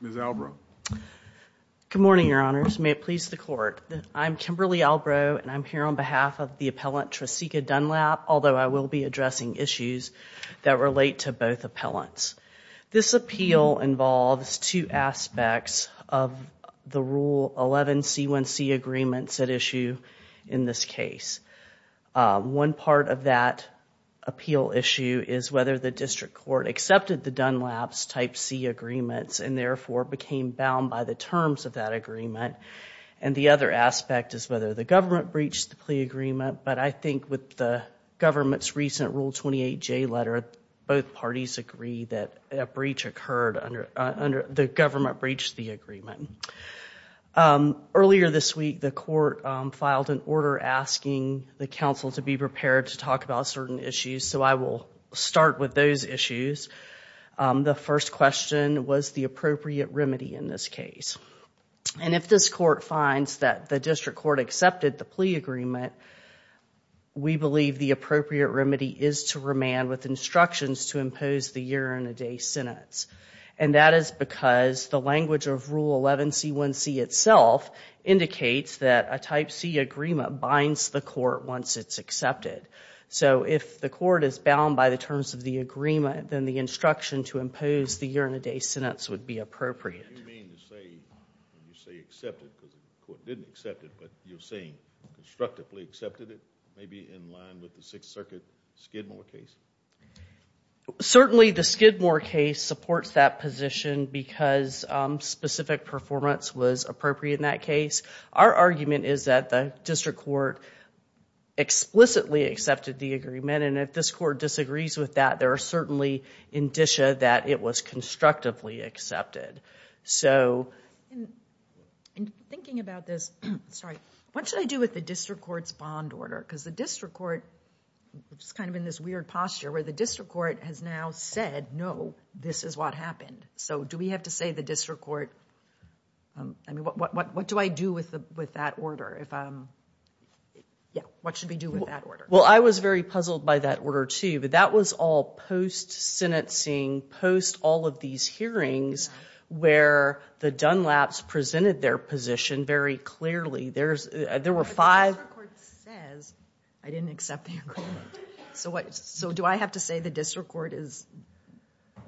Ms. Albrow. Good morning, Your Honors. May it please the Court. I'm Kimberly Albrow and I'm here on behalf of the appellant Trecika Dunlap, although I will be addressing issues that relate to both appellants. This appeal involves two aspects of the Rule 11 C1C agreements at issue in this case. One part of that appeal issue is whether the District Court accepted the Dunlap's Type C agreements and therefore became bound by the terms of that agreement. And the other aspect is whether the government breached the plea agreement, but I think with the government's recent Rule 28J letter, both parties agree that a breach occurred under the government breached the agreement. Earlier this week the court filed an order asking the council to be prepared to talk about certain issues, so I will start with those issues. The first question was the appropriate remedy in this case. And if this court finds that the District Court accepted the plea agreement, we believe the appropriate remedy is to remand with instructions to impose the year-and-a-day sentence. And that is because the language of Rule 11 C1C itself indicates that a Type C agreement binds the court once it's accepted. So if the court is bound by the terms of the agreement, then the instruction to impose the year-and-a-day sentence would be appropriate. Do you mean to say, when you say accepted, because the court didn't accept it, but you're saying constructively accepted it? Maybe in line with the Sixth Circuit Skidmore case? Certainly the Skidmore case supports that position because specific performance was appropriate in that case. Our argument is that the District Court explicitly accepted the agreement, and if this court disagrees with that, there are certainly indicia that it was constructively accepted. What should I do with the District Court's bond order? Because the District Court is kind of in this weird posture where the District Court has now said, no, this is what happened. So do we have to say the District Court, I mean, what do I do with that order? What should we do with that order? Well, I was very puzzled by that order too, but that was all post-sentencing, post all of these hearings, where the Dunlaps presented their position very clearly. But the District Court says, I didn't accept the agreement. So do I have to say the District Court is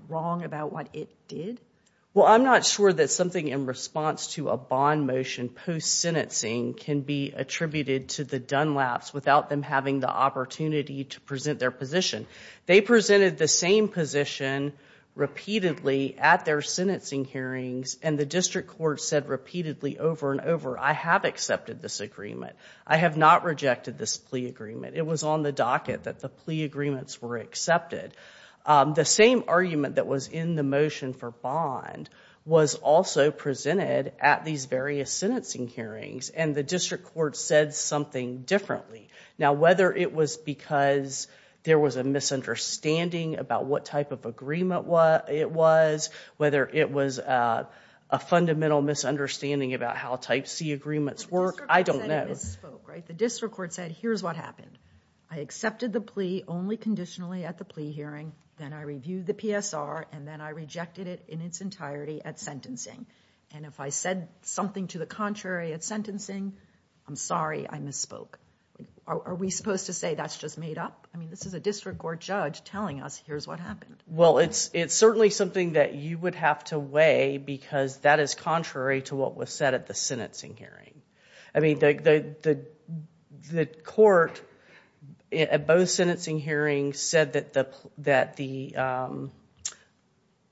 wrong about what it did? Well, I'm not sure that something in response to a bond motion post-sentencing can be attributed to the Dunlaps without them having the opportunity to present their position. They presented the same position repeatedly at their sentencing hearings, and the District Court accepted this agreement. I have not rejected this plea agreement. It was on the docket that the plea agreements were accepted. The same argument that was in the motion for bond was also presented at these various sentencing hearings, and the District Court said something differently. Now, whether it was because there was a misunderstanding about what type of agreement it was, whether it was a fundamental misunderstanding about how type C agreements work, I don't know. The District Court said, here's what happened. I accepted the plea only conditionally at the plea hearing, then I reviewed the PSR, and then I rejected it in its entirety at sentencing. And if I said something to the contrary at sentencing, I'm sorry, I misspoke. Are we supposed to say that's just made up? I mean, this is a District Court judge telling us, here's what happened. Well, it's certainly something that you would have to weigh because that is contrary to what was said at the sentencing hearing. I mean, the court at both sentencing hearings said that the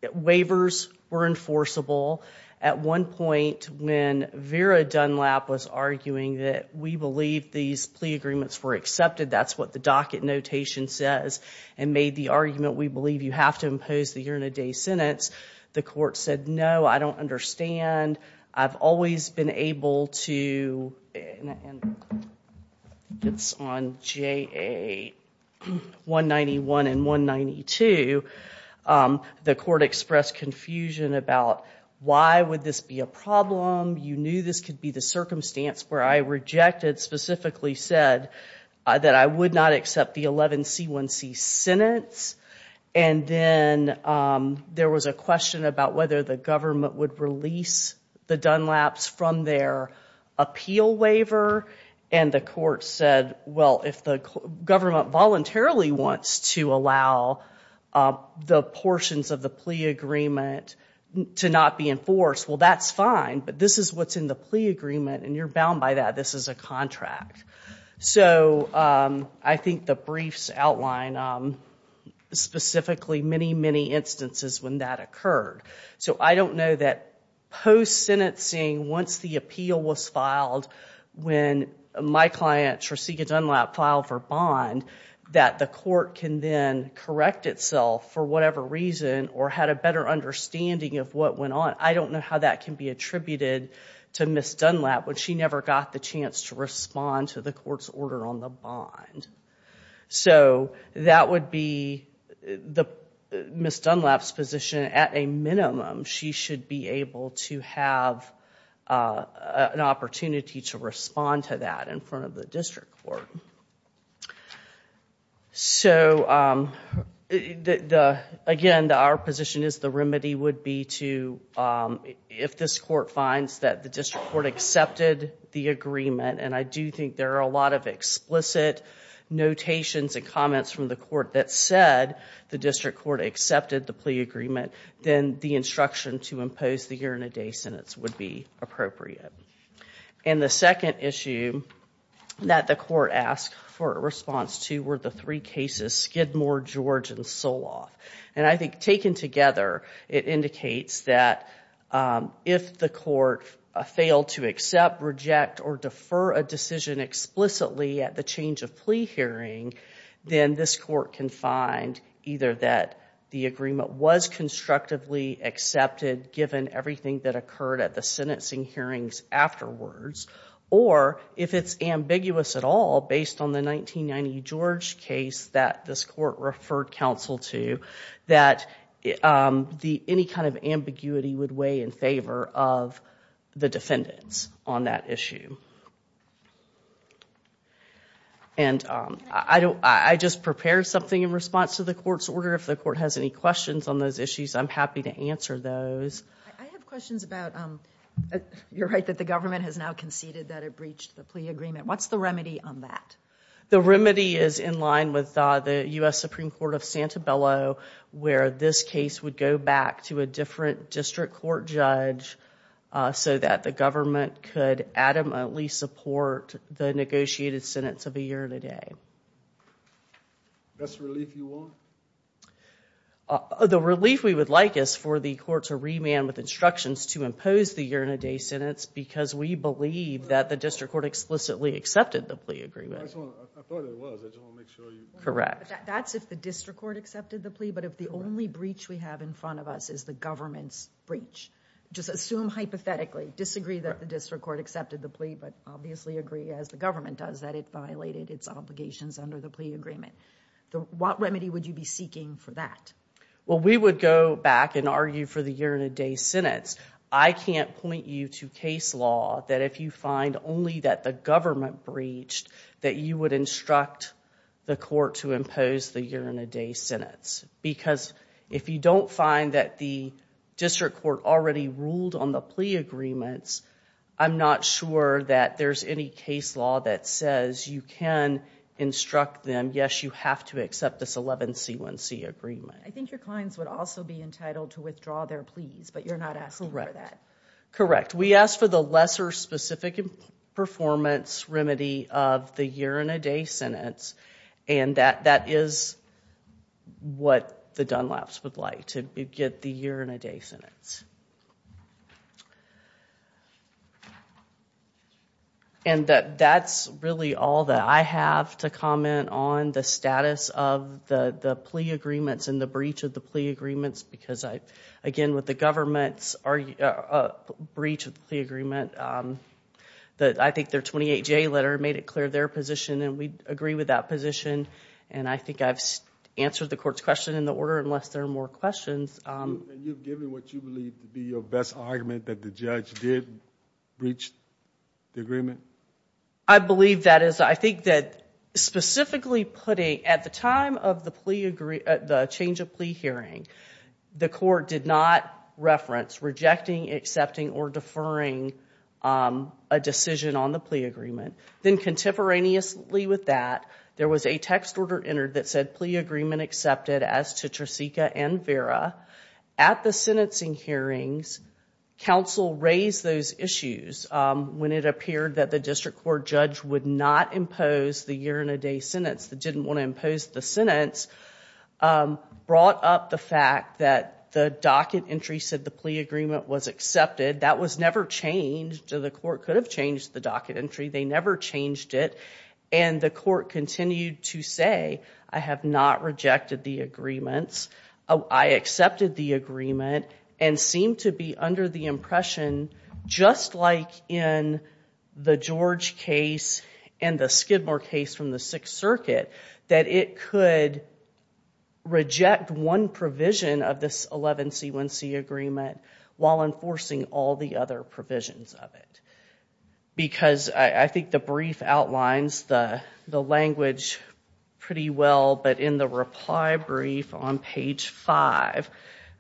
waivers were enforceable. At one point when Vera Dunlap was arguing that we believe these plea agreements were accepted, that's what the docket notation says, and made the argument we believe you have to impose the year-in-a-day sentence, the court said, no, I don't understand. I've always been able to, and it's on JA 191 and 192, the court expressed confusion about why would this be a problem. You knew this could be the circumstance where I rejected, specifically said that I would not accept the 11C1C sentence, and then there was a question about whether the government would release the Dunlaps from their appeal waiver, and the court said, well, if the government voluntarily wants to allow the portions of the plea agreement to not be enforced, well, that's fine, but this is what's in the plea contract. So I think the briefs outline specifically many, many instances when that occurred. So I don't know that post-sentencing, once the appeal was filed, when my client Tresika Dunlap filed for bond, that the court can then correct itself for whatever reason or had a better understanding of what went on. I don't know how that can be attributed to Ms. Dunlap, but she never got the chance to respond to the court's order on the bond. So that would be Ms. Dunlap's position. At a minimum, she should be able to have an opportunity to respond to that in front of the district court. So again, our position is the remedy would be to, if this court finds that the district court accepted the agreement, and I do think there are a lot of explicit notations and comments from the court that said the district court accepted the plea agreement, then the instruction to impose the year-in-a-day sentence would be appropriate. And the second issue that the court asked for a response to were the three cases, Skidmore, George, and Soloff. And I think taken together, it accept, reject, or defer a decision explicitly at the change of plea hearing, then this court can find either that the agreement was constructively accepted given everything that occurred at the sentencing hearings afterwards, or if it's ambiguous at all based on the 1990 George case that this court referred counsel to, that any kind of ambiguity would weigh in favor of the defendants on that issue. And I just prepared something in response to the court's order. If the court has any questions on those issues, I'm happy to answer those. I have questions about, you're right, that the government has now conceded that it breached the plea agreement. What's the remedy on that? The remedy is in line with the U.S. Supreme Court of Santabello, where this case would go back to a different district court judge so that the government could adamantly support the negotiated sentence of a year and a day. That's the relief you want? The relief we would like is for the court to remand with instructions to impose the year-and-a-day sentence because we believe that the district court explicitly accepted the plea agreement. That's if the district court accepted the plea, but if the only breach we have in front of us is the government's breach. Just assume hypothetically, disagree that the district court accepted the plea, but obviously agree as the government does that it violated its obligations under the plea agreement. What remedy would you be seeking for that? Well, we would go back and argue for the year-and-a-day sentence. I can't point you to case law that if you find only that the government breached, that you would instruct the court to impose the year-and-a-day sentence. Because if you don't find that the district court already ruled on the plea agreements, I'm not sure that there's any case law that says you can instruct them, yes, you have to accept this 11C1C agreement. I think your clients would also be entitled to withdraw their pleas, but you're not asking for that. Correct. We asked for the lesser specific performance remedy of the year-and-a-day sentence, and that is what the Dunlaps would like, to get the year-and-a-day sentence. And that's really all that I have to comment on, the status of the plea agreements and the breach of the plea agreements, because I again, with the government's breach of the plea agreement, that I think their 28J letter made it clear their position, and we agree with that position. And I think I've answered the court's question in the order, unless there are more questions. You've given what you believe to be your best argument that the judge did breach the agreement? I believe that is, I think that specifically putting, at the time of the change of plea hearing, the court did not reference rejecting, accepting, or deferring a decision on the plea agreement. Then contemporaneously with that, there was a text order entered that said plea agreement accepted as to Tresica and Vera. At the sentencing hearings, counsel raised those issues when it appeared that the district court judge would not impose the year-and-a-day sentence, that didn't want to impose the sentence, brought up the fact that the docket entry said the plea agreement was accepted. That was never changed. The court could have changed the docket entry, they never changed it, and the court continued to say, I have not rejected the agreements, I accepted the agreement, and seemed to be under the impression, just like in the George case and the Skidmore case from the Sixth Circuit, that it could reject one provision of this 11C1C agreement while enforcing all the other provisions of it. Because I think the brief outlines the language pretty well, but in the reply brief on page 5,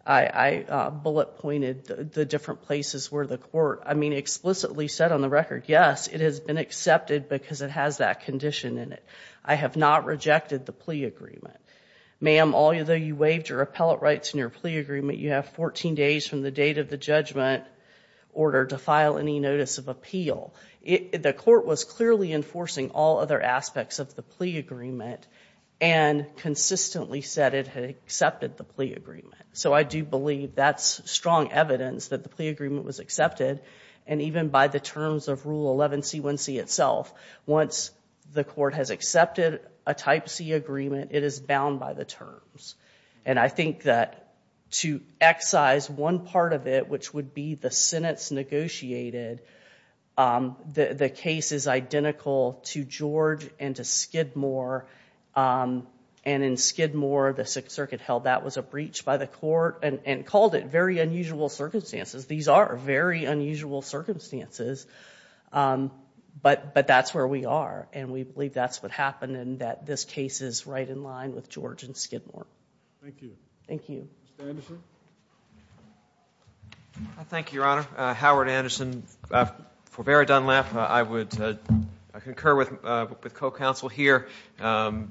I bullet pointed the different places where the court, I mean, explicitly said on the record, yes, it has been accepted because it has that condition in it. I have not rejected the plea agreement. Ma'am, although you waived your appellate rights in your plea agreement, you have 14 days from the date of the judgment order to file any notice of appeal, the court was clearly enforcing all other aspects of the plea agreement and consistently said it had accepted the plea agreement. So I do believe that's strong evidence that the plea agreement was accepted, and even by the terms of Rule 11C1C itself, once the court has accepted a Type C agreement, it is bound by the terms. And I think that to excise one part of it, which would be the sentence negotiated, the case is identical to George and to Skidmore, and in Skidmore, the Sixth Circuit held that was a breach by the court and called it very unusual circumstances. These are very unusual circumstances, but that's where we are, and we believe that's what happened and that this case is right in line with George and Skidmore. Thank you. Thank you. Mr. Anderson? Thank you, Your Honor. Howard Anderson. For Vera Dunlap, I would concur with co-counsel here. From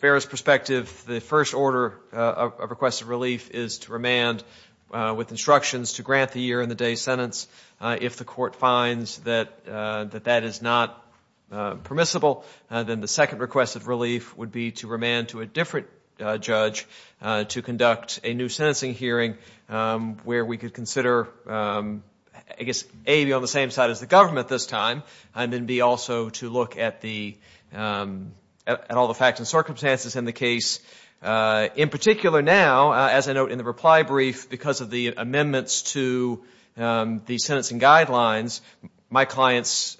Vera's perspective, the first order of request of relief is to remand with instructions to grant the year-and-the-day sentence. If the court finds that that is not permissible, then the second request of relief would be to a different judge to conduct a new sentencing hearing where we could consider, I guess, A, be on the same side as the government this time, and then B, also to look at all the facts and circumstances in the case. In particular now, as I note in the reply brief, because of the amendments to the sentencing guidelines, my client's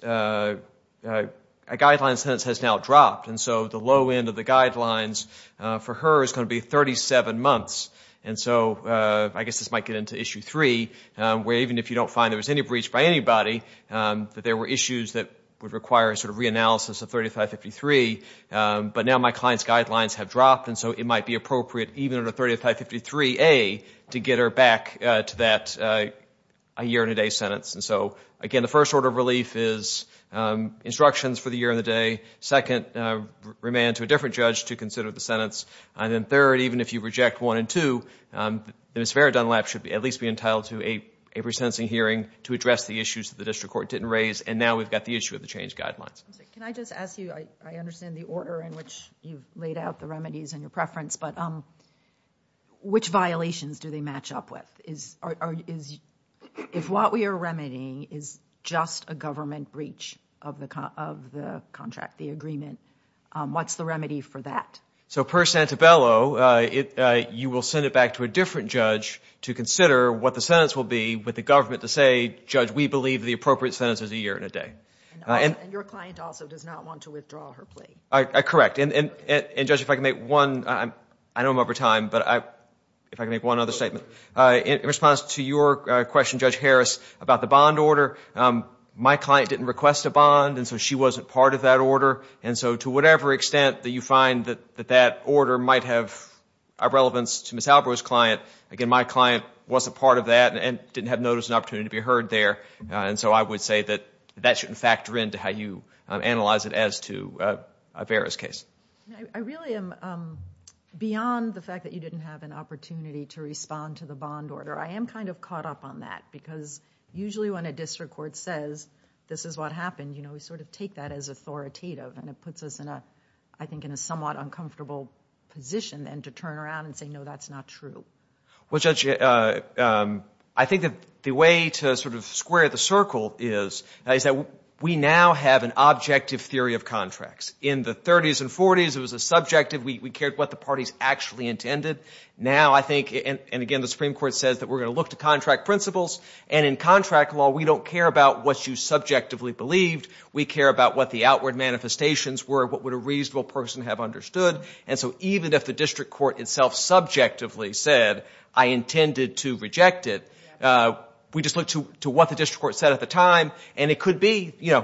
guideline sentence has now dropped, and so the low end of the guidelines for her is going to be 37 months. I guess this might get into Issue 3, where even if you don't find there was any breach by anybody, that there were issues that would require a sort of reanalysis of 3553, but now my client's guidelines have dropped, and so it might be appropriate even under 3553A to get her back to that year-and-a-day sentence. Again, the different judge to consider the sentence, and then third, even if you reject one and two, Ms. Vera Dunlap should at least be entitled to a resentencing hearing to address the issues that the district court didn't raise, and now we've got the issue of the change guidelines. Can I just ask you, I understand the order in which you've laid out the remedies and your preference, but which violations do they match up with? If what we are remedying is just a remedy, what's the remedy for that? So, per Santabello, you will send it back to a different judge to consider what the sentence will be with the government to say, Judge, we believe the appropriate sentence is a year-and-a-day. And your client also does not want to withdraw her plea. Correct, and Judge, if I can make one, I know I'm over time, but if I can make one other statement. In response to your question, Judge Harris, about the bond order, my client didn't request a bond order. To the extent that you find that that order might have a relevance to Ms. Albro's client, again, my client wasn't part of that and didn't have notice and opportunity to be heard there, and so I would say that that shouldn't factor into how you analyze it as to Vera's case. I really am, beyond the fact that you didn't have an opportunity to respond to the bond order, I am kind of caught up on that because usually when a district court says this is what happened, you know, we sort of take that as authoritative and it puts us in a I think in a somewhat uncomfortable position then to turn around and say, no, that's not true. Well, Judge, I think that the way to sort of square the circle is is that we now have an objective theory of contracts. In the 30s and 40s, it was a subjective, we cared what the parties actually intended. Now, I think, and again, the Supreme Court says that we're going to look to contract principles, and in contract law, we don't care about what you subjectively believed. We care about what the outward manifestations were, what would a reasonable person have understood, and so even if the district court itself subjectively said, I intended to reject it, we just look to what the district court said at the time, and it could be, you know,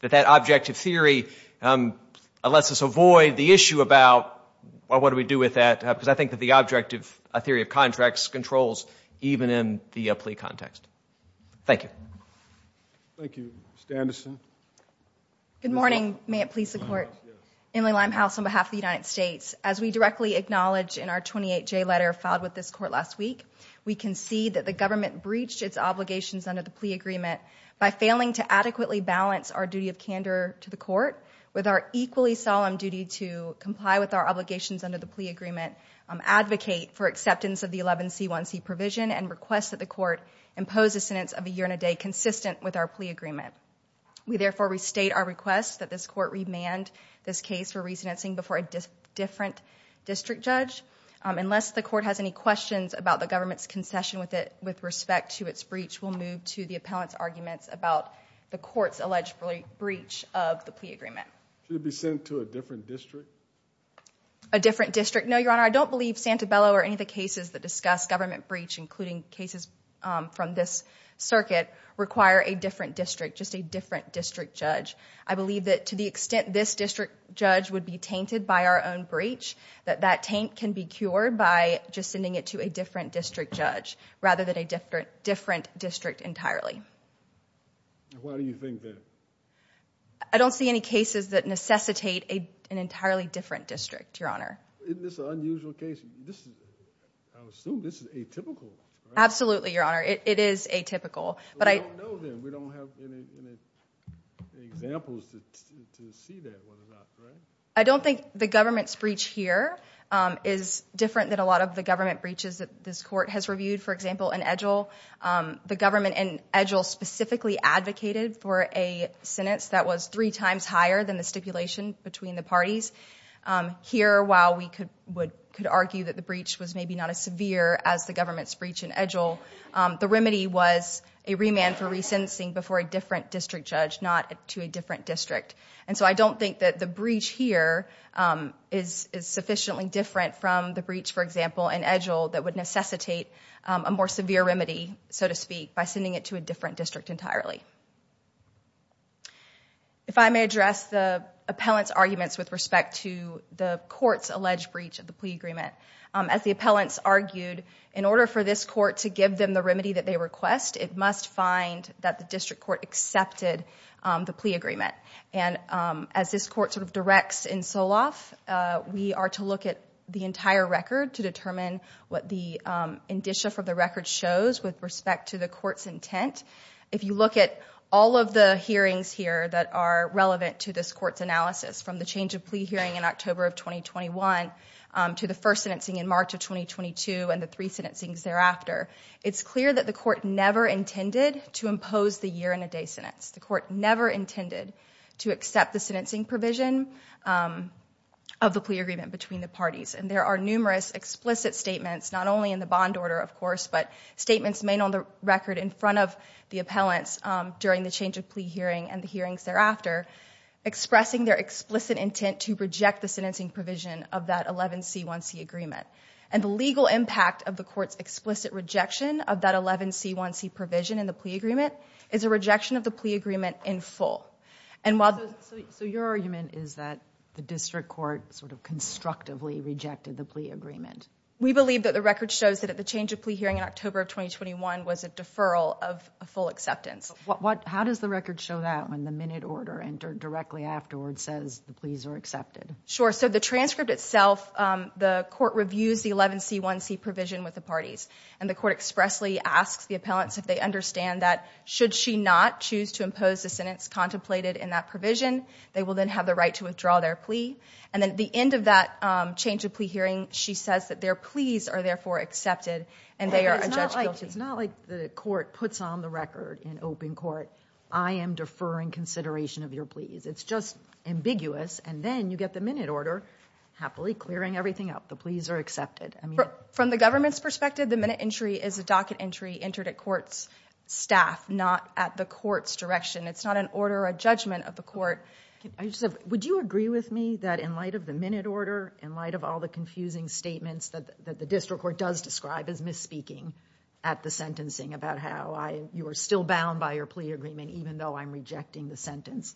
that that objective theory lets us avoid the issue about what do we do with that, because I think that the objective theory of Good morning. May it please the court. Emily Limehouse on behalf of the United States. As we directly acknowledge in our 28J letter filed with this court last week, we concede that the government breached its obligations under the plea agreement by failing to adequately balance our duty of candor to the court with our equally solemn duty to comply with our obligations under the plea agreement, advocate for acceptance of the 11C1C provision, and request that the court impose a sentence of a year and a day consistent with our plea agreement. We therefore restate our request that this court remand this case for resenancing before a different district judge. Unless the court has any questions about the government's concession with respect to its breach, we'll move to the appellant's arguments about the court's alleged breach of the plea agreement. Should it be sent to a different district? A different district? No, your honor. I don't believe Santabella or any of the cases that discuss government breach, including cases from this circuit, require a different district, just a different district judge. I believe that to the extent this district judge would be tainted by our own breach, that that taint can be cured by just sending it to a different district judge rather than a different district entirely. Why do you think that? I don't see any cases that necessitate an entirely different district, your honor. Isn't this an unusual case? I assume this is atypical. Absolutely, your honor. It is atypical. We don't have any examples to see that, right? I don't think the government's breach here is different than a lot of the government breaches that this court has reviewed. For example, in Edgell, the government in Edgell specifically advocated for a sentence that was three times higher than the stipulation between the parties. Here, while we could argue that the breach was maybe not as severe as the government's breach in Edgell, the remedy was a remand for re-sentencing before a different district judge, not to a different district. And so I don't think that the breach here is sufficiently different from the breach, for example, in Edgell that would necessitate a more severe remedy, so to speak, by sending it to a different district entirely. If I may address the appellant's arguments with respect to the court's alleged breach of the plea agreement. As the appellants argued, in order for this remedy that they request, it must find that the district court accepted the plea agreement. And as this court sort of directs in Soloff, we are to look at the entire record to determine what the indicia from the record shows with respect to the court's intent. If you look at all of the hearings here that are relevant to this court's analysis, from the change of plea hearing in October of 2021 to the first sentencing in March of 2022 and the three year that the court never intended to impose the year-in-a-day sentence, the court never intended to accept the sentencing provision of the plea agreement between the parties. And there are numerous explicit statements, not only in the bond order, of course, but statements made on the record in front of the appellants during the change of plea hearing and the hearings thereafter, expressing their explicit intent to reject the sentencing provision of that 11C1C agreement. And the legal impact of the court's explicit rejection of that 11C1C provision in the plea agreement is a rejection of the plea agreement in full. And while... So your argument is that the district court sort of constructively rejected the plea agreement? We believe that the record shows that at the change of plea hearing in October of 2021 was a deferral of a full acceptance. How does the record show that when the minute order entered directly afterwards says the pleas are accepted? Sure, so the transcript itself, the court reviews the 11C1C provision with the parties and the court expressly asks the appellants if they understand that should she not choose to impose the sentence contemplated in that provision, they will then have the right to withdraw their plea. And then at the end of that change of plea hearing, she says that their pleas are therefore accepted and they are adjudged guilty. It's not like the court puts on the record in open court, I am deferring consideration of your pleas. It's just ambiguous and then you get the minute order happily clearing everything up. The pleas are accepted. From the government's perspective, the minute entry is a docket entry entered at court's staff, not at the court's direction. It's not an order, a judgment of the court. Would you agree with me that in light of the minute order, in light of all the confusing statements that the district court does describe as misspeaking at the sentencing about how you are still bound by your plea agreement even though I'm rejecting the sentence,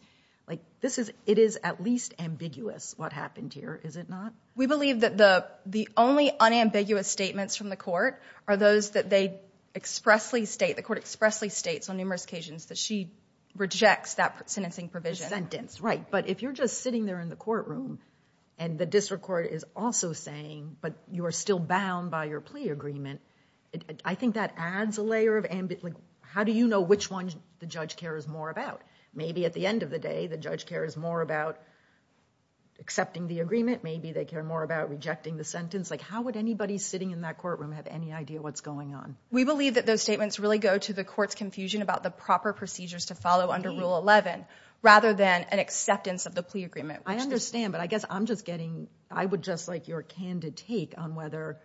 like this is it is at least ambiguous what happened here, is it not? We believe that the only unambiguous statements from the court are those that they expressly state, the court expressly states on numerous occasions that she rejects that sentencing provision. The sentence, right. But if you're just sitting there in the courtroom and the district court is also saying but you are still bound by your plea agreement, I think that adds a layer of ambiguity. How do you know which one the judge cares more about? Maybe at the end of the day the judge cares more about accepting the agreement, maybe they care more about rejecting the sentence, like how would anybody sitting in that courtroom have any idea what's going on? We believe that those statements really go to the court's confusion about the proper procedures to follow under Rule 11 rather than an acceptance of the plea agreement. I understand but I guess I'm just getting, I would just like your candid take on whether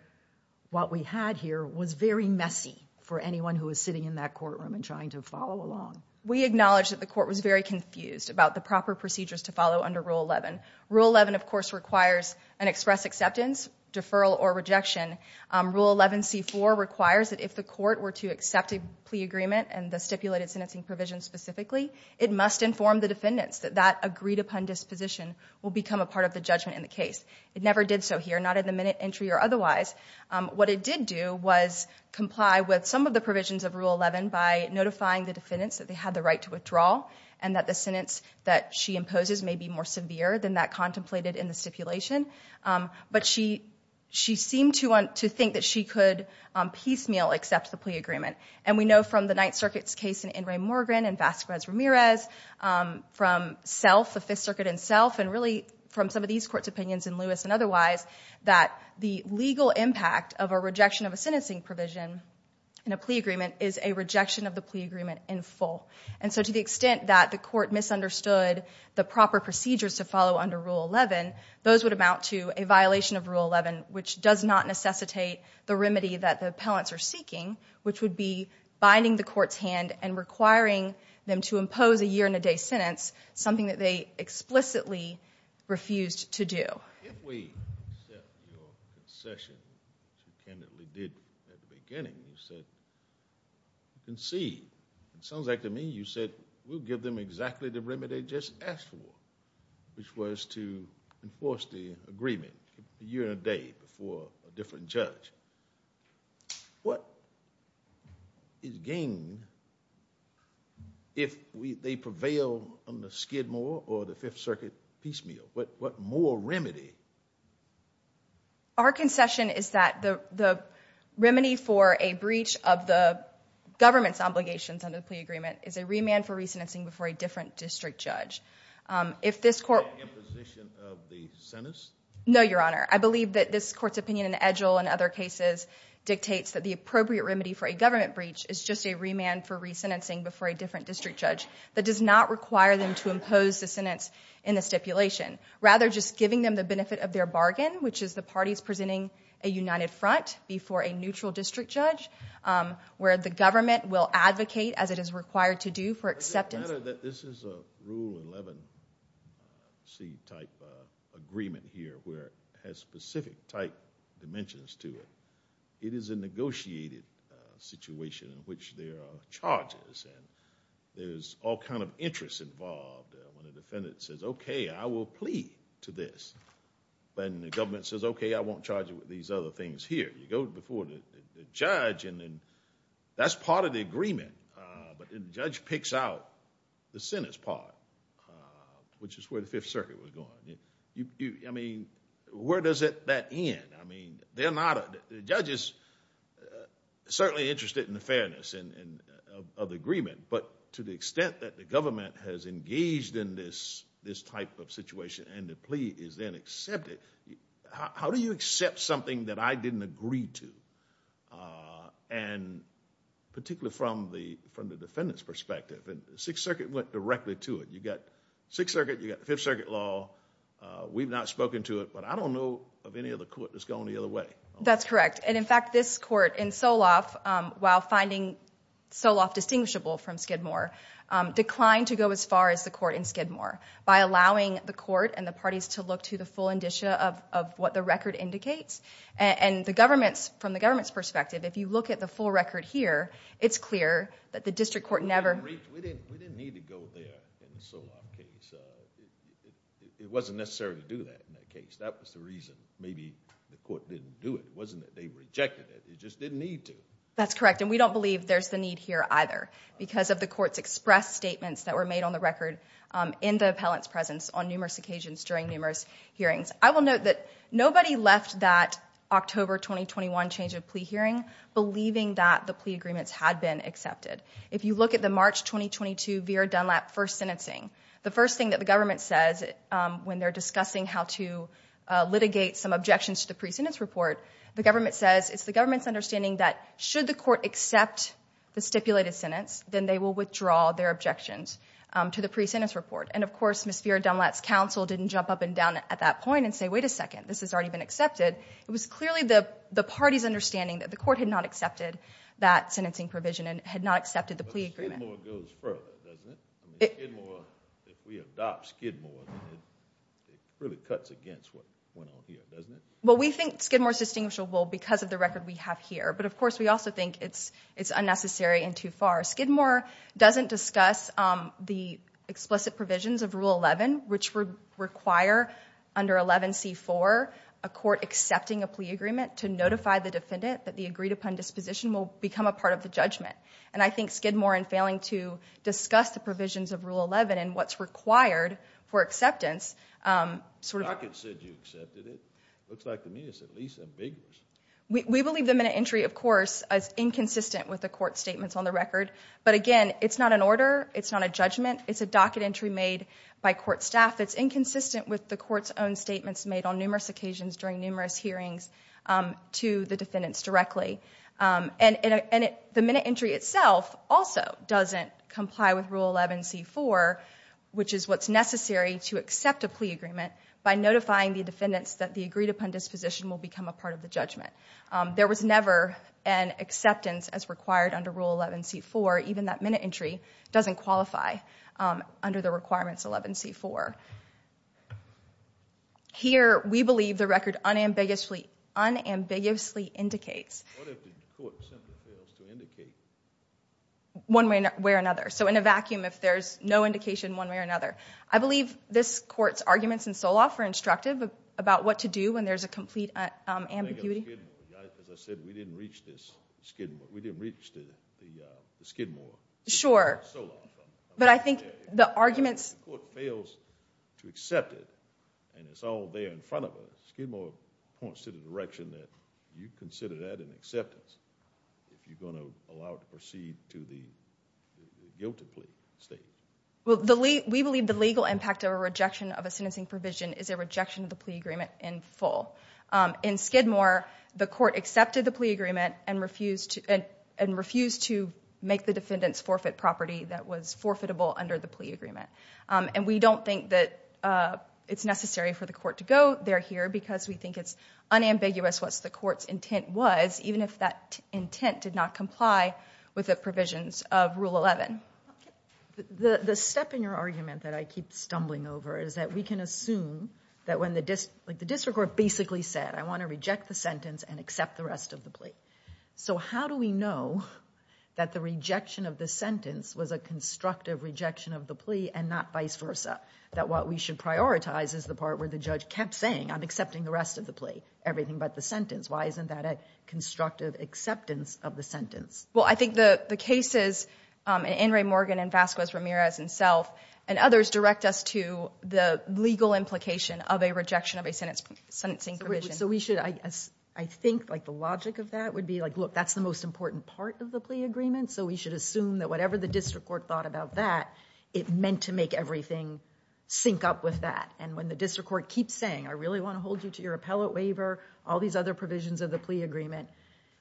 what we had here was very messy for anyone who is sitting in that courtroom and trying to follow along. We acknowledge that the court was very confused about the proper procedures to follow under Rule 11. Rule 11 of course requires an express acceptance, deferral, or rejection. Rule 11c4 requires that if the court were to accept a plea agreement and the stipulated sentencing provision specifically, it must inform the defendants that that agreed-upon disposition will become a part of the judgment in the case. It never did so here, not in the minute entry or otherwise. What it did do was comply with some of the provisions of Rule 11 by notifying the defendants that they had the right to withdraw and that the sentence that she imposes may be more severe than that contemplated in the stipulation. But she seemed to want to think that she could piecemeal accept the plea agreement. And we know from the Ninth Circuit's case in Ingray Morgan and Vazquez Ramirez, from Sealth, the Fifth Circuit in Sealth, and really from some of these court's opinions in Lewis and otherwise that the legal impact of a rejection of a sentencing provision in a plea agreement is a plea agreement in full. And so to the extent that the court misunderstood the proper procedures to follow under Rule 11, those would amount to a violation of Rule 11, which does not necessitate the remedy that the appellants are seeking, which would be binding the court's hand and requiring them to impose a year-and-a-day It sounds like to me you said we'll give them exactly the remedy they just asked for, which was to enforce the agreement a year and a day before a different judge. What is gained if they prevail on the Skidmore or the Fifth Circuit piecemeal? What more remedy? Our concession is that the remedy for a breach of the government's obligations under the plea agreement is a remand for re-sentencing before a different district judge. If this court... Imposition of the sentence? No, Your Honor. I believe that this court's opinion in Edgell and other cases dictates that the appropriate remedy for a government breach is just a remand for re-sentencing before a different district judge that does not require them to impose the sentence in the stipulation. Rather, just giving them the benefit of their bargain, which is the parties presenting a united front before a neutral district judge, where the government will advocate as it is required to do for acceptance... This is a Rule 11C type agreement here where it has specific type dimensions to it. It is a negotiated situation in which there are charges and there's all kind of interest involved when a defendant says, okay, I will plea to this. When the government says, okay, I won't charge you with these other things here. You go before the judge and then that's part of the agreement. But the judge picks out the sentence part, which is where the Fifth Circuit was going. I mean, where does that end? I mean, they're not... The judge is certainly interested in the fairness of the agreement, but to the extent that the government has engaged in this type of situation and the plea is then accepted, how do you accept something that I didn't agree to? Particularly from the defendant's perspective. Sixth Circuit went directly to it. You've got Sixth Circuit, you've got Fifth Circuit law. We've not spoken to it, but I don't know of any other court that's gone the other way. That's correct. In fact, this court in Soloff, while finding Soloff distinguishable from Skidmore, declined to go as far as the court in Skidmore by allowing the court and the parties to look to the full indicia of what the record indicates. And the government, from the government's perspective, if you look at the full record here, it's clear that the district court never... We didn't need to go there in the Soloff case. It wasn't necessary to do that in that case. That was the reason maybe the court didn't do it. It wasn't that they rejected it. They just didn't need to. That's correct, and we don't believe there's the need here either because of the court's expressed statements that were made on the record in the appellant's presence on numerous occasions during numerous hearings. I will note that nobody left that October 2021 change of plea hearing believing that the plea agreements had been accepted. If you look at the March 2022 Vera Dunlap first sentencing, the first thing that the government says when they're discussing how to litigate some objections to the pre-sentence report, the government says it's the government's understanding that should the court accept the stipulated sentence, then they will withdraw their objections to the pre-sentence report. And, of course, Ms. Vera Dunlap's counsel didn't jump up and down at that point and say, wait a second, this has already been accepted. It was clearly the party's understanding that the court had not accepted that sentencing provision and had not accepted the plea agreement. But Skidmore goes further, doesn't it? If we adopt Skidmore, it really cuts against what went on here, doesn't it? Well, we think Skidmore's distinguishable because of the record we have here, but, of course, we also think it's unnecessary and too far. Skidmore doesn't discuss the explicit provisions of Rule 11, which would require under 11C4 a court accepting a plea agreement to notify the defendant that the agreed-upon disposition will become a part of the judgment. And I think Skidmore, in failing to discuss the provisions of Rule 11 and what's required for acceptance, sort of— The docket said you accepted it. Looks like to me it's at least ambiguous. We believe the minute entry, of course, is inconsistent with the court statements on the record. But, again, it's not an order. It's not a judgment. It's a docket entry made by court staff that's inconsistent with the court's own statements made on numerous occasions during numerous hearings to the defendants directly. And the minute entry itself also doesn't comply with Rule 11C4, which is what's necessary to accept a plea agreement by notifying the defendants that the agreed-upon disposition will become a part of the judgment. There was never an acceptance as required under Rule 11C4. Even that minute entry doesn't qualify under the requirements of 11C4. Here, we believe the record unambiguously indicates— What if the court simply fails to indicate? One way or another. So in a vacuum, if there's no indication one way or another. I believe this court's arguments in Soloff are instructive about what to do when there's a complete ambiguity. As I said, we didn't reach the Skidmore. Sure. But I think the arguments— If the court fails to accept it, and it's all there in front of us, Skidmore points to the direction that you consider that in acceptance if you're going to allow it to proceed to the guilty plea stage. We believe the legal impact of a rejection of a sentencing provision is a rejection of the plea agreement in full. In Skidmore, the court accepted the plea agreement and refused to make the defendants forfeit property that was forfeitable under the plea agreement. And we don't think that it's necessary for the court to go there here because we think it's unambiguous what the court's intent was, even if that intent did not comply with the provisions of Rule 11. The step in your argument that I keep stumbling over is that we can assume that when the district court basically said, I want to reject the sentence and accept the rest of the plea. So how do we know that the rejection of the sentence was a constructive rejection of the plea and not vice versa? That what we should prioritize is the part where the judge kept saying, I'm accepting the rest of the plea, everything but the sentence. Why isn't that a constructive acceptance of the sentence? Well, I think the cases, in Ray Morgan and Vasquez Ramirez and self and others, direct us to the legal implication of a rejection of a sentencing provision. So we should, I think like the logic of that would be like, look, that's the most important part of the plea agreement. So we should assume that whatever the district court thought about that, it meant to make everything sync up with that. And when the district court keeps saying, I really want to hold you to your appellate waiver, all these other provisions of the plea agreement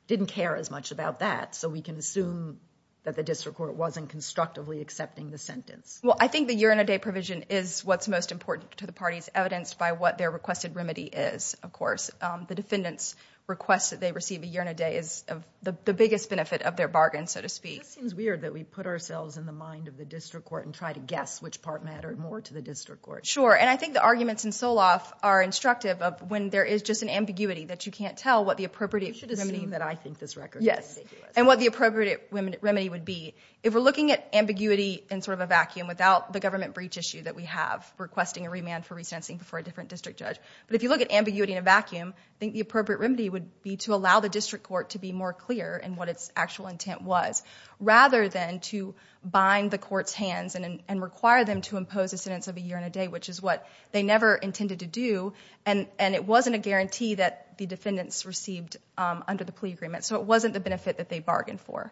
didn't care as much about that. So we can assume that the district court wasn't constructively accepting the sentence. Well, I think the year-in-a-day provision is what's most important to the parties, evidenced by what their requested remedy is, of course. The defendant's request that they receive a year-in-a-day is the biggest benefit of their bargain, so to speak. It seems weird that we put ourselves in the mind of the district court and try to guess which part mattered more to the district court. Sure, and I think the arguments in Soloff are instructive of when there is just an ambiguity that you can't tell what the appropriate remedy is. Yes, and what the appropriate remedy would be. If we're looking at ambiguity in sort of a vacuum, without the government breach issue that we have, requesting a remand for resentencing before a different district judge, but if you look at ambiguity in a vacuum, I think the appropriate remedy would be to allow the district court to be more clear in what its actual intent was, rather than to bind the court's hands and require them to impose a sentence of a year-in-a-day, which is what they never intended to do, and it wasn't a guarantee that the defendants received under the plea agreement, so it wasn't the benefit that they bargained for.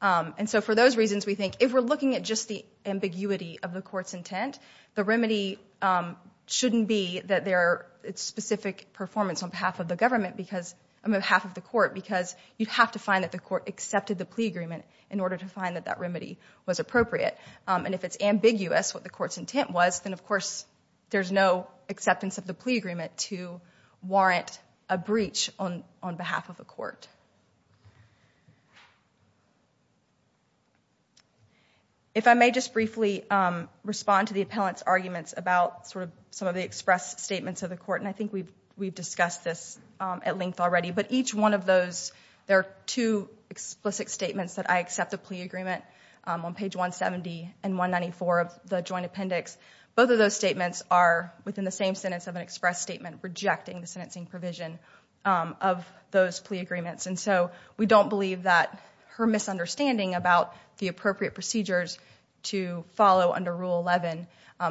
And so for those reasons, we think if we're looking at just the ambiguity of the court's intent, the remedy shouldn't be that their specific performance on behalf of the government, on behalf of the court, because you'd have to find that the court accepted the plea agreement in order to find that that remedy was appropriate. And if it's ambiguous, what the court's intent was, then of course there's no acceptance of the plea agreement to warrant a breach on behalf of the court. If I may just briefly respond to the appellant's arguments about some of the expressed statements of the court, and I think we've discussed this at length already, but each one of those, there are two explicit statements that I accept of plea agreement on page 170 and 194 of the joint appendix. Both of those statements are within the same sentence of an express statement rejecting the sentencing provision of those plea agreements, and so we don't believe that her misunderstanding about the appropriate procedures to follow under Rule 11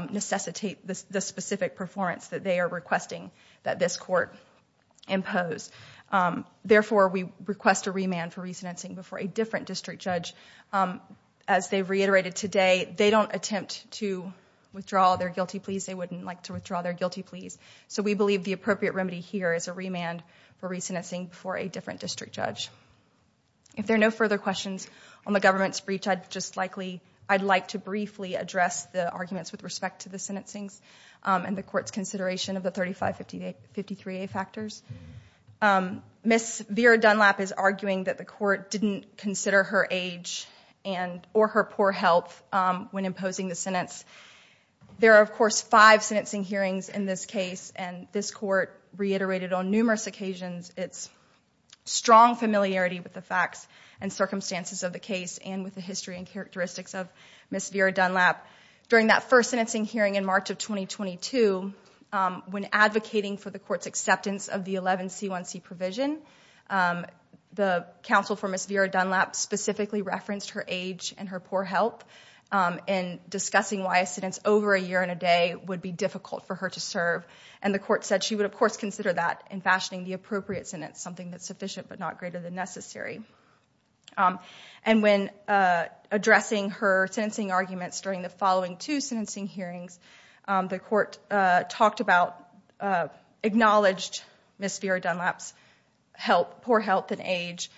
necessitate the specific performance that they are requesting that this court impose. Therefore, we request a remand for re-sentencing before a different district judge as they've reiterated today. They don't attempt to withdraw their guilty pleas. They wouldn't like to withdraw their guilty pleas. So we believe the appropriate remedy here is a remand for re-sentencing before a different district judge. If there are no further questions on the government's breach, I'd like to briefly address the arguments with respect to the sentencing and the court's consideration of the 3553A factors. Ms. Vera Dunlap is arguing that the court didn't consider her age or her poor health when imposing the sentence. There are, of course, five sentencing hearings in this case, and this court reiterated on numerous occasions its strong familiarity with the facts and circumstances of the case and with the history and characteristics of Ms. Vera Dunlap. During that first sentencing hearing in March of 2022, when advocating for the court's acceptance of the 11C1C provision, the counsel for Ms. Vera Dunlap specifically referenced her age and her poor health in discussing why a sentence over a year and a day would be difficult for her to serve, and the court said she would, of course, consider that in fashioning the appropriate sentence, something that's sufficient but not greater than necessary. And when addressing her sentencing arguments during the following two sentencing hearings, the court talked about, acknowledged Ms. Vera Dunlap's poor health and age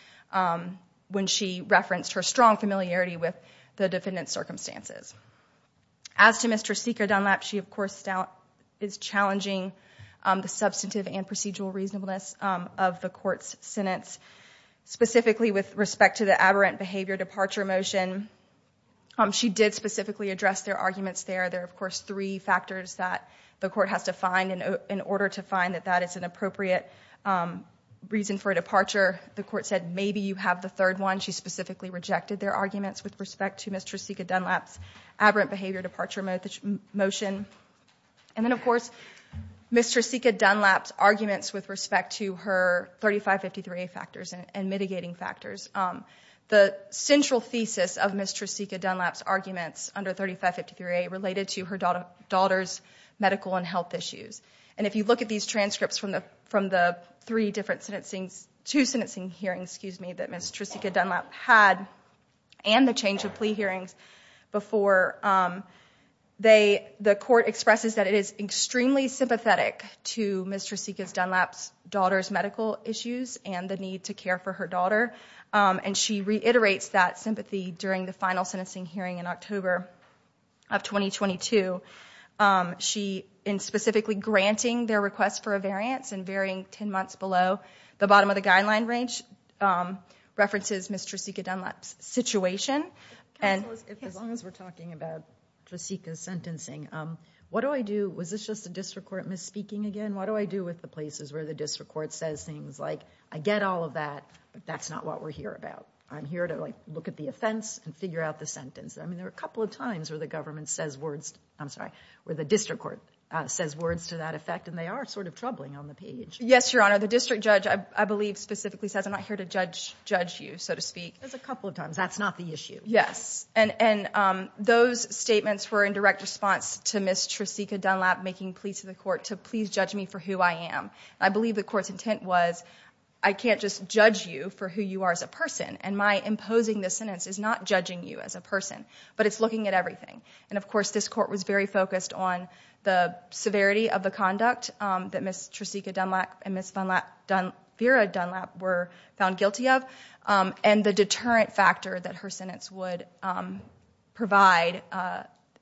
when she referenced her strong familiarity with the defendant's circumstances. As to Mr. Seeker Dunlap, she, of course, is challenging the substantive and procedural reasonableness of the court's sentence, specifically with respect to the aberrant behavior departure motion. She did specifically address their arguments there. There are, of course, three factors that the court has to find in order to find that that is an appropriate reason for a departure. The court said maybe you have the third one. She specifically rejected their arguments with respect to Ms. Tresika Dunlap's aberrant behavior departure motion. And then, of course, Ms. Tresika Dunlap's arguments with respect to her 3553A factors and mitigating factors. The central thesis of Ms. Tresika Dunlap's arguments under 3553A related to her daughter's medical and health issues. And if you look at these transcripts from the three different sentencing, two sentencing hearings, excuse me, that Ms. Tresika Dunlap had and the change of plea hearings before, the court expresses that it is extremely sympathetic to Ms. Tresika Dunlap's daughter's medical issues and the need to care for her daughter. And she reiterates that sympathy during the final sentencing hearing in October of 2022. She, in specifically granting their request for a variance and varying 10 months below the bottom of the guideline range, references Ms. Tresika Dunlap's situation. As long as we're talking about Tresika's sentencing, what do I do? Was this just a district court misspeaking again? What do I do with the places where the district court says things like, I get all of that, but that's not what we're here about. I'm here to look at the offense and figure out the sentence. I mean, there are a couple of times where the government says words, I'm sorry, where the district court says words to that effect, and they are sort of troubling on the page. Yes, Your Honor. The district judge, I believe, specifically says, I'm not here to judge you, so to speak. There's a couple of times. That's not the issue. Yes. And those statements were in direct response to Ms. Tresika Dunlap making pleas to the court to please judge me for who I am. I believe the court's intent was, I can't just judge you for who you are as a person, and my imposing this sentence is not judging you as a person, but it's looking at everything. And, of course, this court was very focused on the severity of the conduct that Ms. Tresika Dunlap and Ms. Vera Dunlap were found guilty of and the deterrent factor that her sentence would provide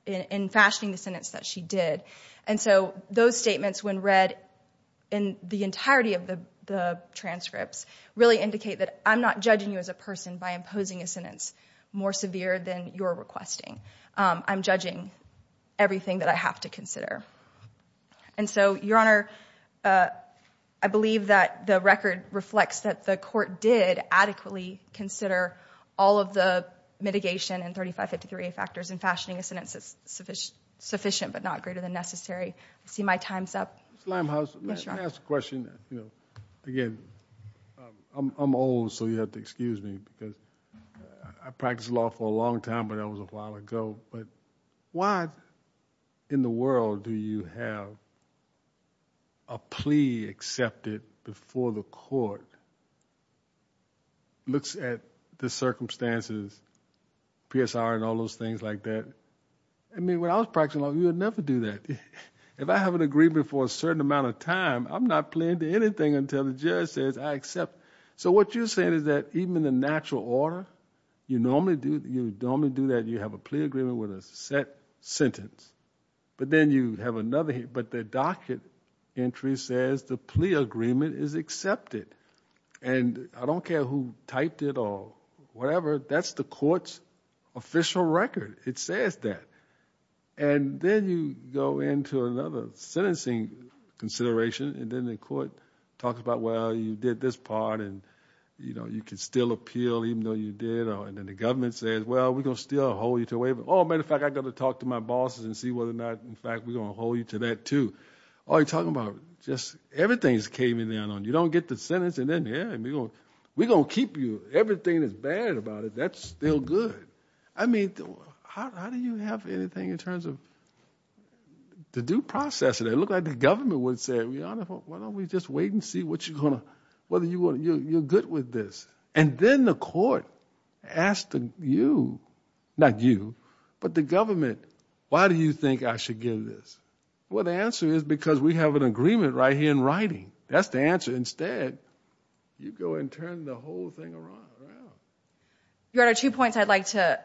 in fashioning the sentence that she did. And so those statements, when read in the entirety of the transcripts, really indicate that I'm not judging you as a person by imposing a sentence more severe than you're requesting. I'm judging everything that I have to consider. And so, Your Honor, I believe that the record reflects that the court did adequately consider all of the mitigation and 3553A factors in fashioning a sentence sufficient but not greater than necessary. I see my time's up. Ms. Limehouse, may I ask a question? Again, I'm old, so you'll have to excuse me, because I practiced law for a long time, but that was a while ago. But why in the world do you have a plea accepted before the court looks at the circumstances, PSR and all those things like that? I mean, when I was practicing law, you would never do that. If I have an agreement for a certain amount of time, I'm not playing to anything until the judge says I accept. So what you're saying is that even in the natural order, you normally do that, you have a plea agreement with a set sentence. But then you have another, but the docket entry says the plea agreement is accepted. And I don't care who typed it or whatever, that's the court's official record. It says that. And then you go into another sentencing consideration, and then the court talks about, well, you did this part, and you can still appeal even though you did. And then the government says, well, we're going to still hold you to a waiver. Oh, as a matter of fact, I've got to talk to my bosses and see whether or not, in fact, we're going to hold you to that too. Oh, you're talking about just everything's caving in on you. You don't get the sentence, and then, yeah, we're going to keep you. Everything that's bad about it, that's still good. I mean, how do you have anything in terms of the due process? It looked like the government would say, Your Honor, why don't we just wait and see whether you're good with this. And then the court asked you, not you, but the government, why do you think I should give this? Well, the answer is because we have an agreement right here in writing. That's the answer. Instead, you go and turn the whole thing around. Your Honor, two points I'd like to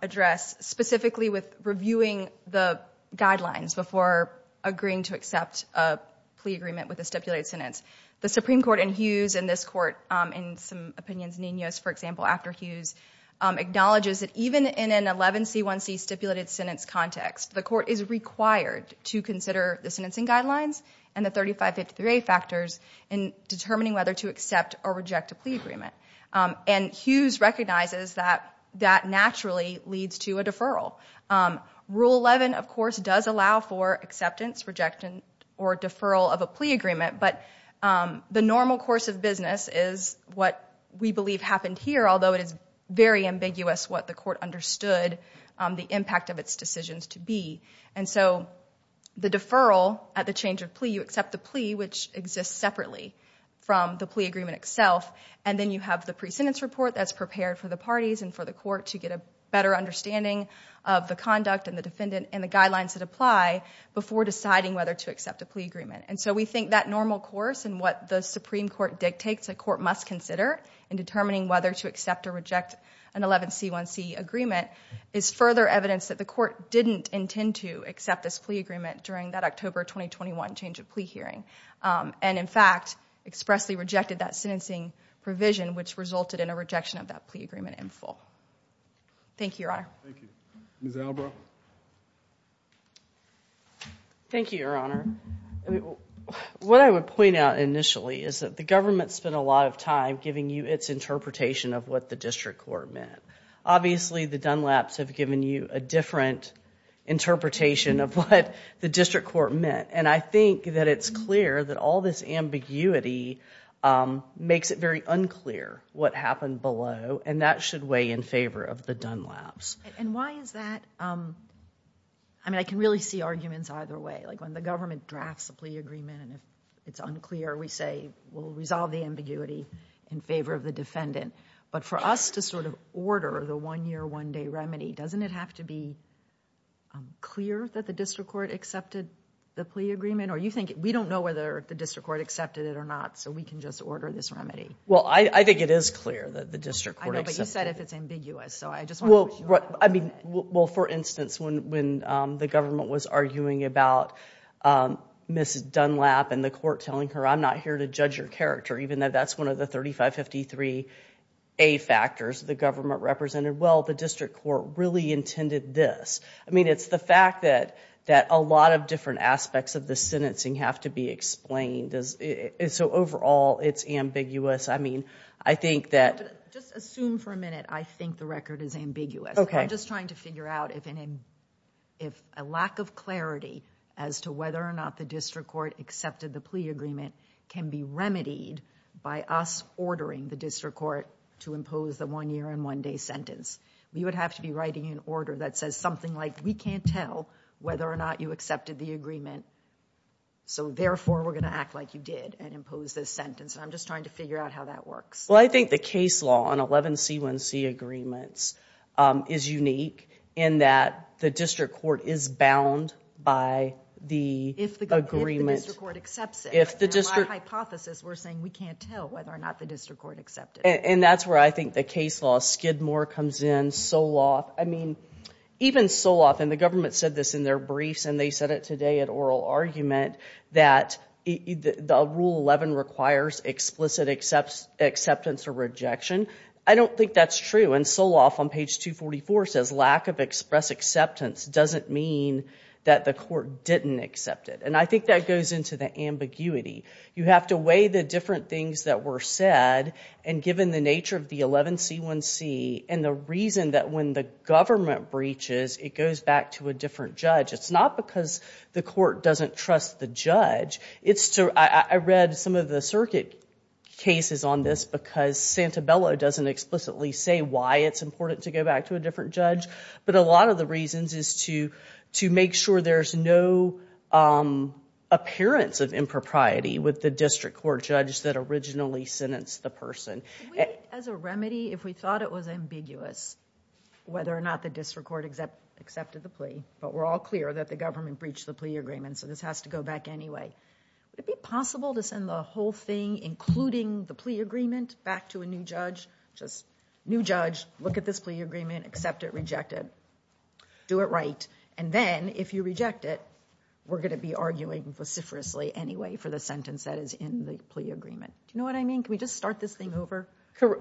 address, specifically with reviewing the guidelines before agreeing to accept a plea agreement with a stipulated sentence. The Supreme Court in Hughes and this court, in some opinions, Ninos, for example, after Hughes, acknowledges that even in an 11C1C stipulated sentence context, the court is required to consider the sentencing guidelines and the 3553A factors in determining whether to accept or reject a plea agreement. And Hughes recognizes that that naturally leads to a deferral. Rule 11, of course, does allow for acceptance, rejection, or deferral of a plea agreement, but the normal course of business is what we believe happened here, although it is very ambiguous what the court understood the impact of its decisions to be. And so the deferral at the change of plea, you accept the plea, which exists separately from the plea agreement itself, and then you have the pre-sentence report that's prepared for the parties and for the court to get a better understanding of the conduct and the defendant and the guidelines that apply before deciding whether to accept a plea agreement. And so we think that normal course and what the Supreme Court dictates a court must consider in determining whether to accept or reject an 11C1C agreement is further evidence that the court didn't intend to accept this plea agreement during that October 2021 change of plea hearing, and in fact expressly rejected that sentencing provision, which resulted in a rejection of that plea agreement in full. Thank you, Your Honor. Thank you. Ms. Albraugh? Thank you, Your Honor. What I would point out initially is that the government spent a lot of time giving you its interpretation of what the district court meant. Obviously, the Dunlaps have given you a different interpretation of what the district court meant, and I think that it's clear that all this ambiguity makes it very unclear what happened below, and that should weigh in favor of the Dunlaps. And why is that? I mean, I can really see arguments either way. Like when the government drafts a plea agreement and it's unclear, we say we'll resolve the ambiguity in favor of the defendant. But for us to sort of order the one-year, one-day remedy, doesn't it have to be clear that the district court accepted the plea agreement? We don't know whether the district court accepted it or not, so we can just order this remedy. Well, I think it is clear that the district court accepted it. I know, but you said if it's ambiguous, so I just want to push you on that. Well, for instance, when the government was arguing about Ms. Dunlap and the court telling her, I'm not here to judge your character, even though that's one of the 3553A factors the government represented, well, the district court really intended this. I mean, it's the fact that a lot of different aspects of the sentencing have to be explained. So overall, it's ambiguous. I mean, I think that— Just assume for a minute I think the record is ambiguous. I'm just trying to figure out if a lack of clarity as to whether or not the district court accepted the plea agreement can be remedied by us ordering the district court to impose the one-year and one-day sentence. We would have to be writing an order that says something like, we can't tell whether or not you accepted the agreement, so therefore we're going to act like you did and impose this sentence. I'm just trying to figure out how that works. Well, I think the case law on 11C1C agreements is unique in that the district court is bound by the agreement. If the district court accepts it. In my hypothesis, we're saying we can't tell whether or not the district court accepted it. And that's where I think the case law, Skidmore comes in, Soloff. I mean, even Soloff, and the government said this in their briefs, and they said it today at oral argument, that Rule 11 requires explicit acceptance or rejection. I don't think that's true. And Soloff on page 244 says, lack of express acceptance doesn't mean that the court didn't accept it. And I think that goes into the ambiguity. You have to weigh the different things that were said, and given the nature of the 11C1C, and the reason that when the government breaches, it goes back to a different judge. It's not because the court doesn't trust the judge. I read some of the circuit cases on this because Santabella doesn't explicitly say why it's important to go back to a different judge. But a lot of the reasons is to make sure there's no appearance of impropriety with the district court judge that originally sentenced the person. As a remedy, if we thought it was ambiguous, whether or not the district court accepted the plea, but we're all clear that the government breached the plea agreement, so this has to go back anyway. Would it be possible to send the whole thing, including the plea agreement, back to a new judge? Just, new judge, look at this plea agreement, accept it, reject it. Do it right. And then, if you reject it, we're going to be arguing vociferously anyway for the sentence that is in the plea agreement. Do you know what I mean? Can we just start this thing over?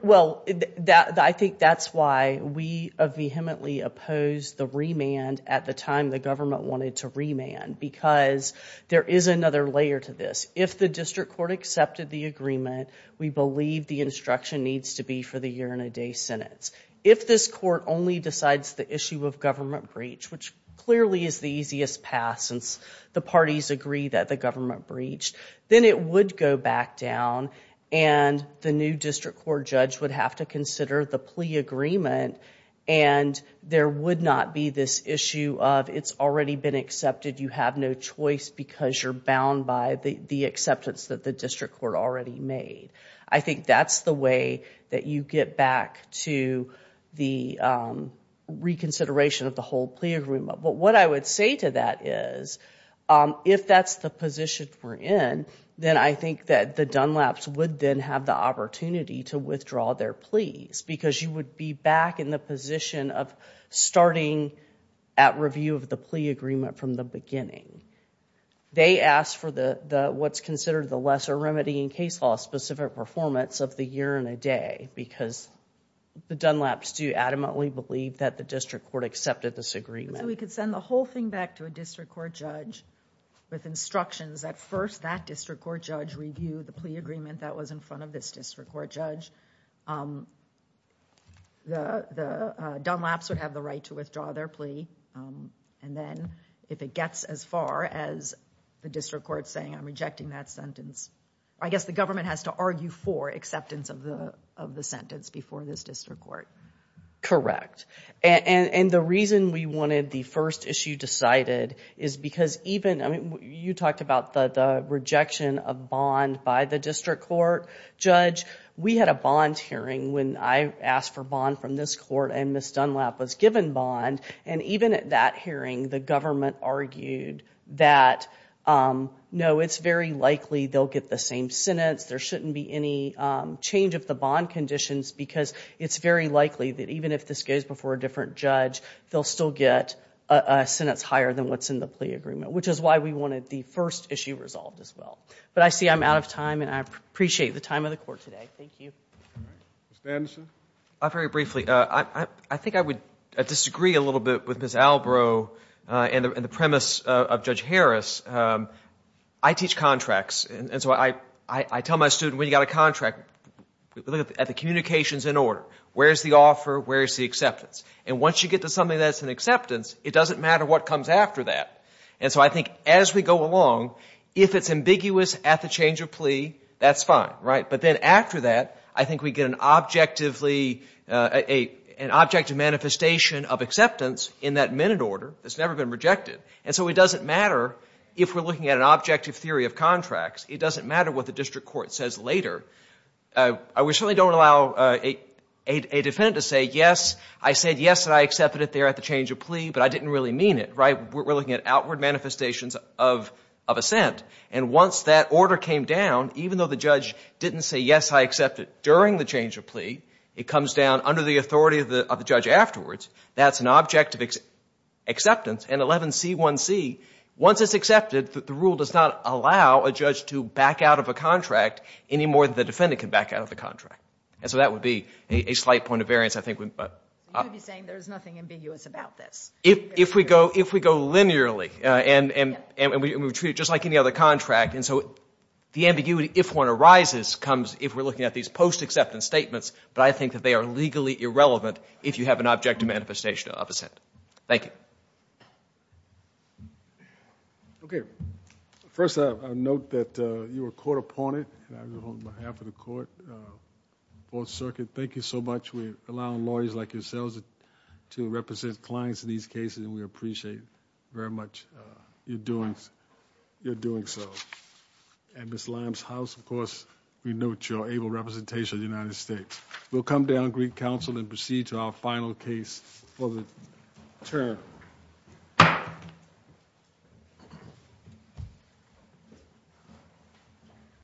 Well, I think that's why we vehemently opposed the remand at the time the government wanted to remand, because there is another layer to this. If the district court accepted the agreement, we believe the instruction needs to be for the year-and-a-day sentence. If this court only decides the issue of government breach, which clearly is the easiest path since the parties agree that the government breached, then it would go back down, and the new district court judge would have to consider the plea agreement, and there would not be this issue of it's already been accepted, you have no choice because you're bound by the acceptance that the district court already made. I think that's the way that you get back to the reconsideration of the whole plea agreement. But what I would say to that is, if that's the position we're in, then I think that the Dunlaps would then have the opportunity to withdraw their pleas, because you would be back in the position of starting at review of the plea agreement from the beginning. They ask for what's considered the lesser remedy in case law-specific performance of the year-and-a-day, because the Dunlaps do adamantly believe that the district court accepted this agreement. We could send the whole thing back to a district court judge with instructions that first that district court judge review the plea agreement that was in front of this district court judge. The Dunlaps would have the right to withdraw their plea, and then if it gets as far as the district court saying, I'm rejecting that sentence, I guess the government has to argue for acceptance of the sentence before this district court. Correct. And the reason we wanted the first issue decided is because even, you talked about the rejection of bond by the district court judge. We had a bond hearing when I asked for bond from this court, and Ms. Dunlap was given bond. And even at that hearing, the government argued that, no, it's very likely they'll get the same sentence. There shouldn't be any change of the bond conditions because it's very likely that even if this goes before a different judge, they'll still get a sentence higher than what's in the plea agreement, which is why we wanted the first issue resolved as well. But I see I'm out of time, and I appreciate the time of the court today. Thank you. Ms. Banderson? Very briefly. I think I would disagree a little bit with Ms. Albrow and the premise of Judge Harris. I teach contracts, and so I tell my student, when you've got a contract, look at the communications in order. Where's the offer? Where's the acceptance? And once you get to something that's an acceptance, it doesn't matter what comes after that. And so I think as we go along, if it's ambiguous at the change of plea, that's fine. But then after that, I think we get an objective manifestation of acceptance in that minute order that's never been rejected. And so it doesn't matter if we're looking at an objective theory of contracts. It doesn't matter what the district court says later. We certainly don't allow a defendant to say, yes, I said yes and I accepted it there at the change of plea, but I didn't really mean it. We're looking at outward manifestations of assent. And once that order came down, even though the judge didn't say, yes, I accept it during the change of plea, it comes down under the authority of the judge afterwards, that's an objective acceptance. And 11C1C, once it's accepted, the rule does not allow a judge to back out of a contract any more than the defendant can back out of the contract. And so that would be a slight point of variance, I think. You'd be saying there's nothing ambiguous about this. If we go linearly and we treat it just like any other contract, and so the ambiguity, if one arises, comes if we're looking at these post-acceptance statements, but I think that they are legally irrelevant if you have an objective manifestation of assent. Thank you. Okay. First, I note that you were caught upon it, and I do it on behalf of the court, Fourth Circuit. Thank you so much. We're allowing lawyers like yourselves to represent clients in these cases, and we appreciate very much your doing so. At Ms. Lamb's house, of course, we note your able representation of the United States. We'll come down to Greek Council and proceed to our final case for the term.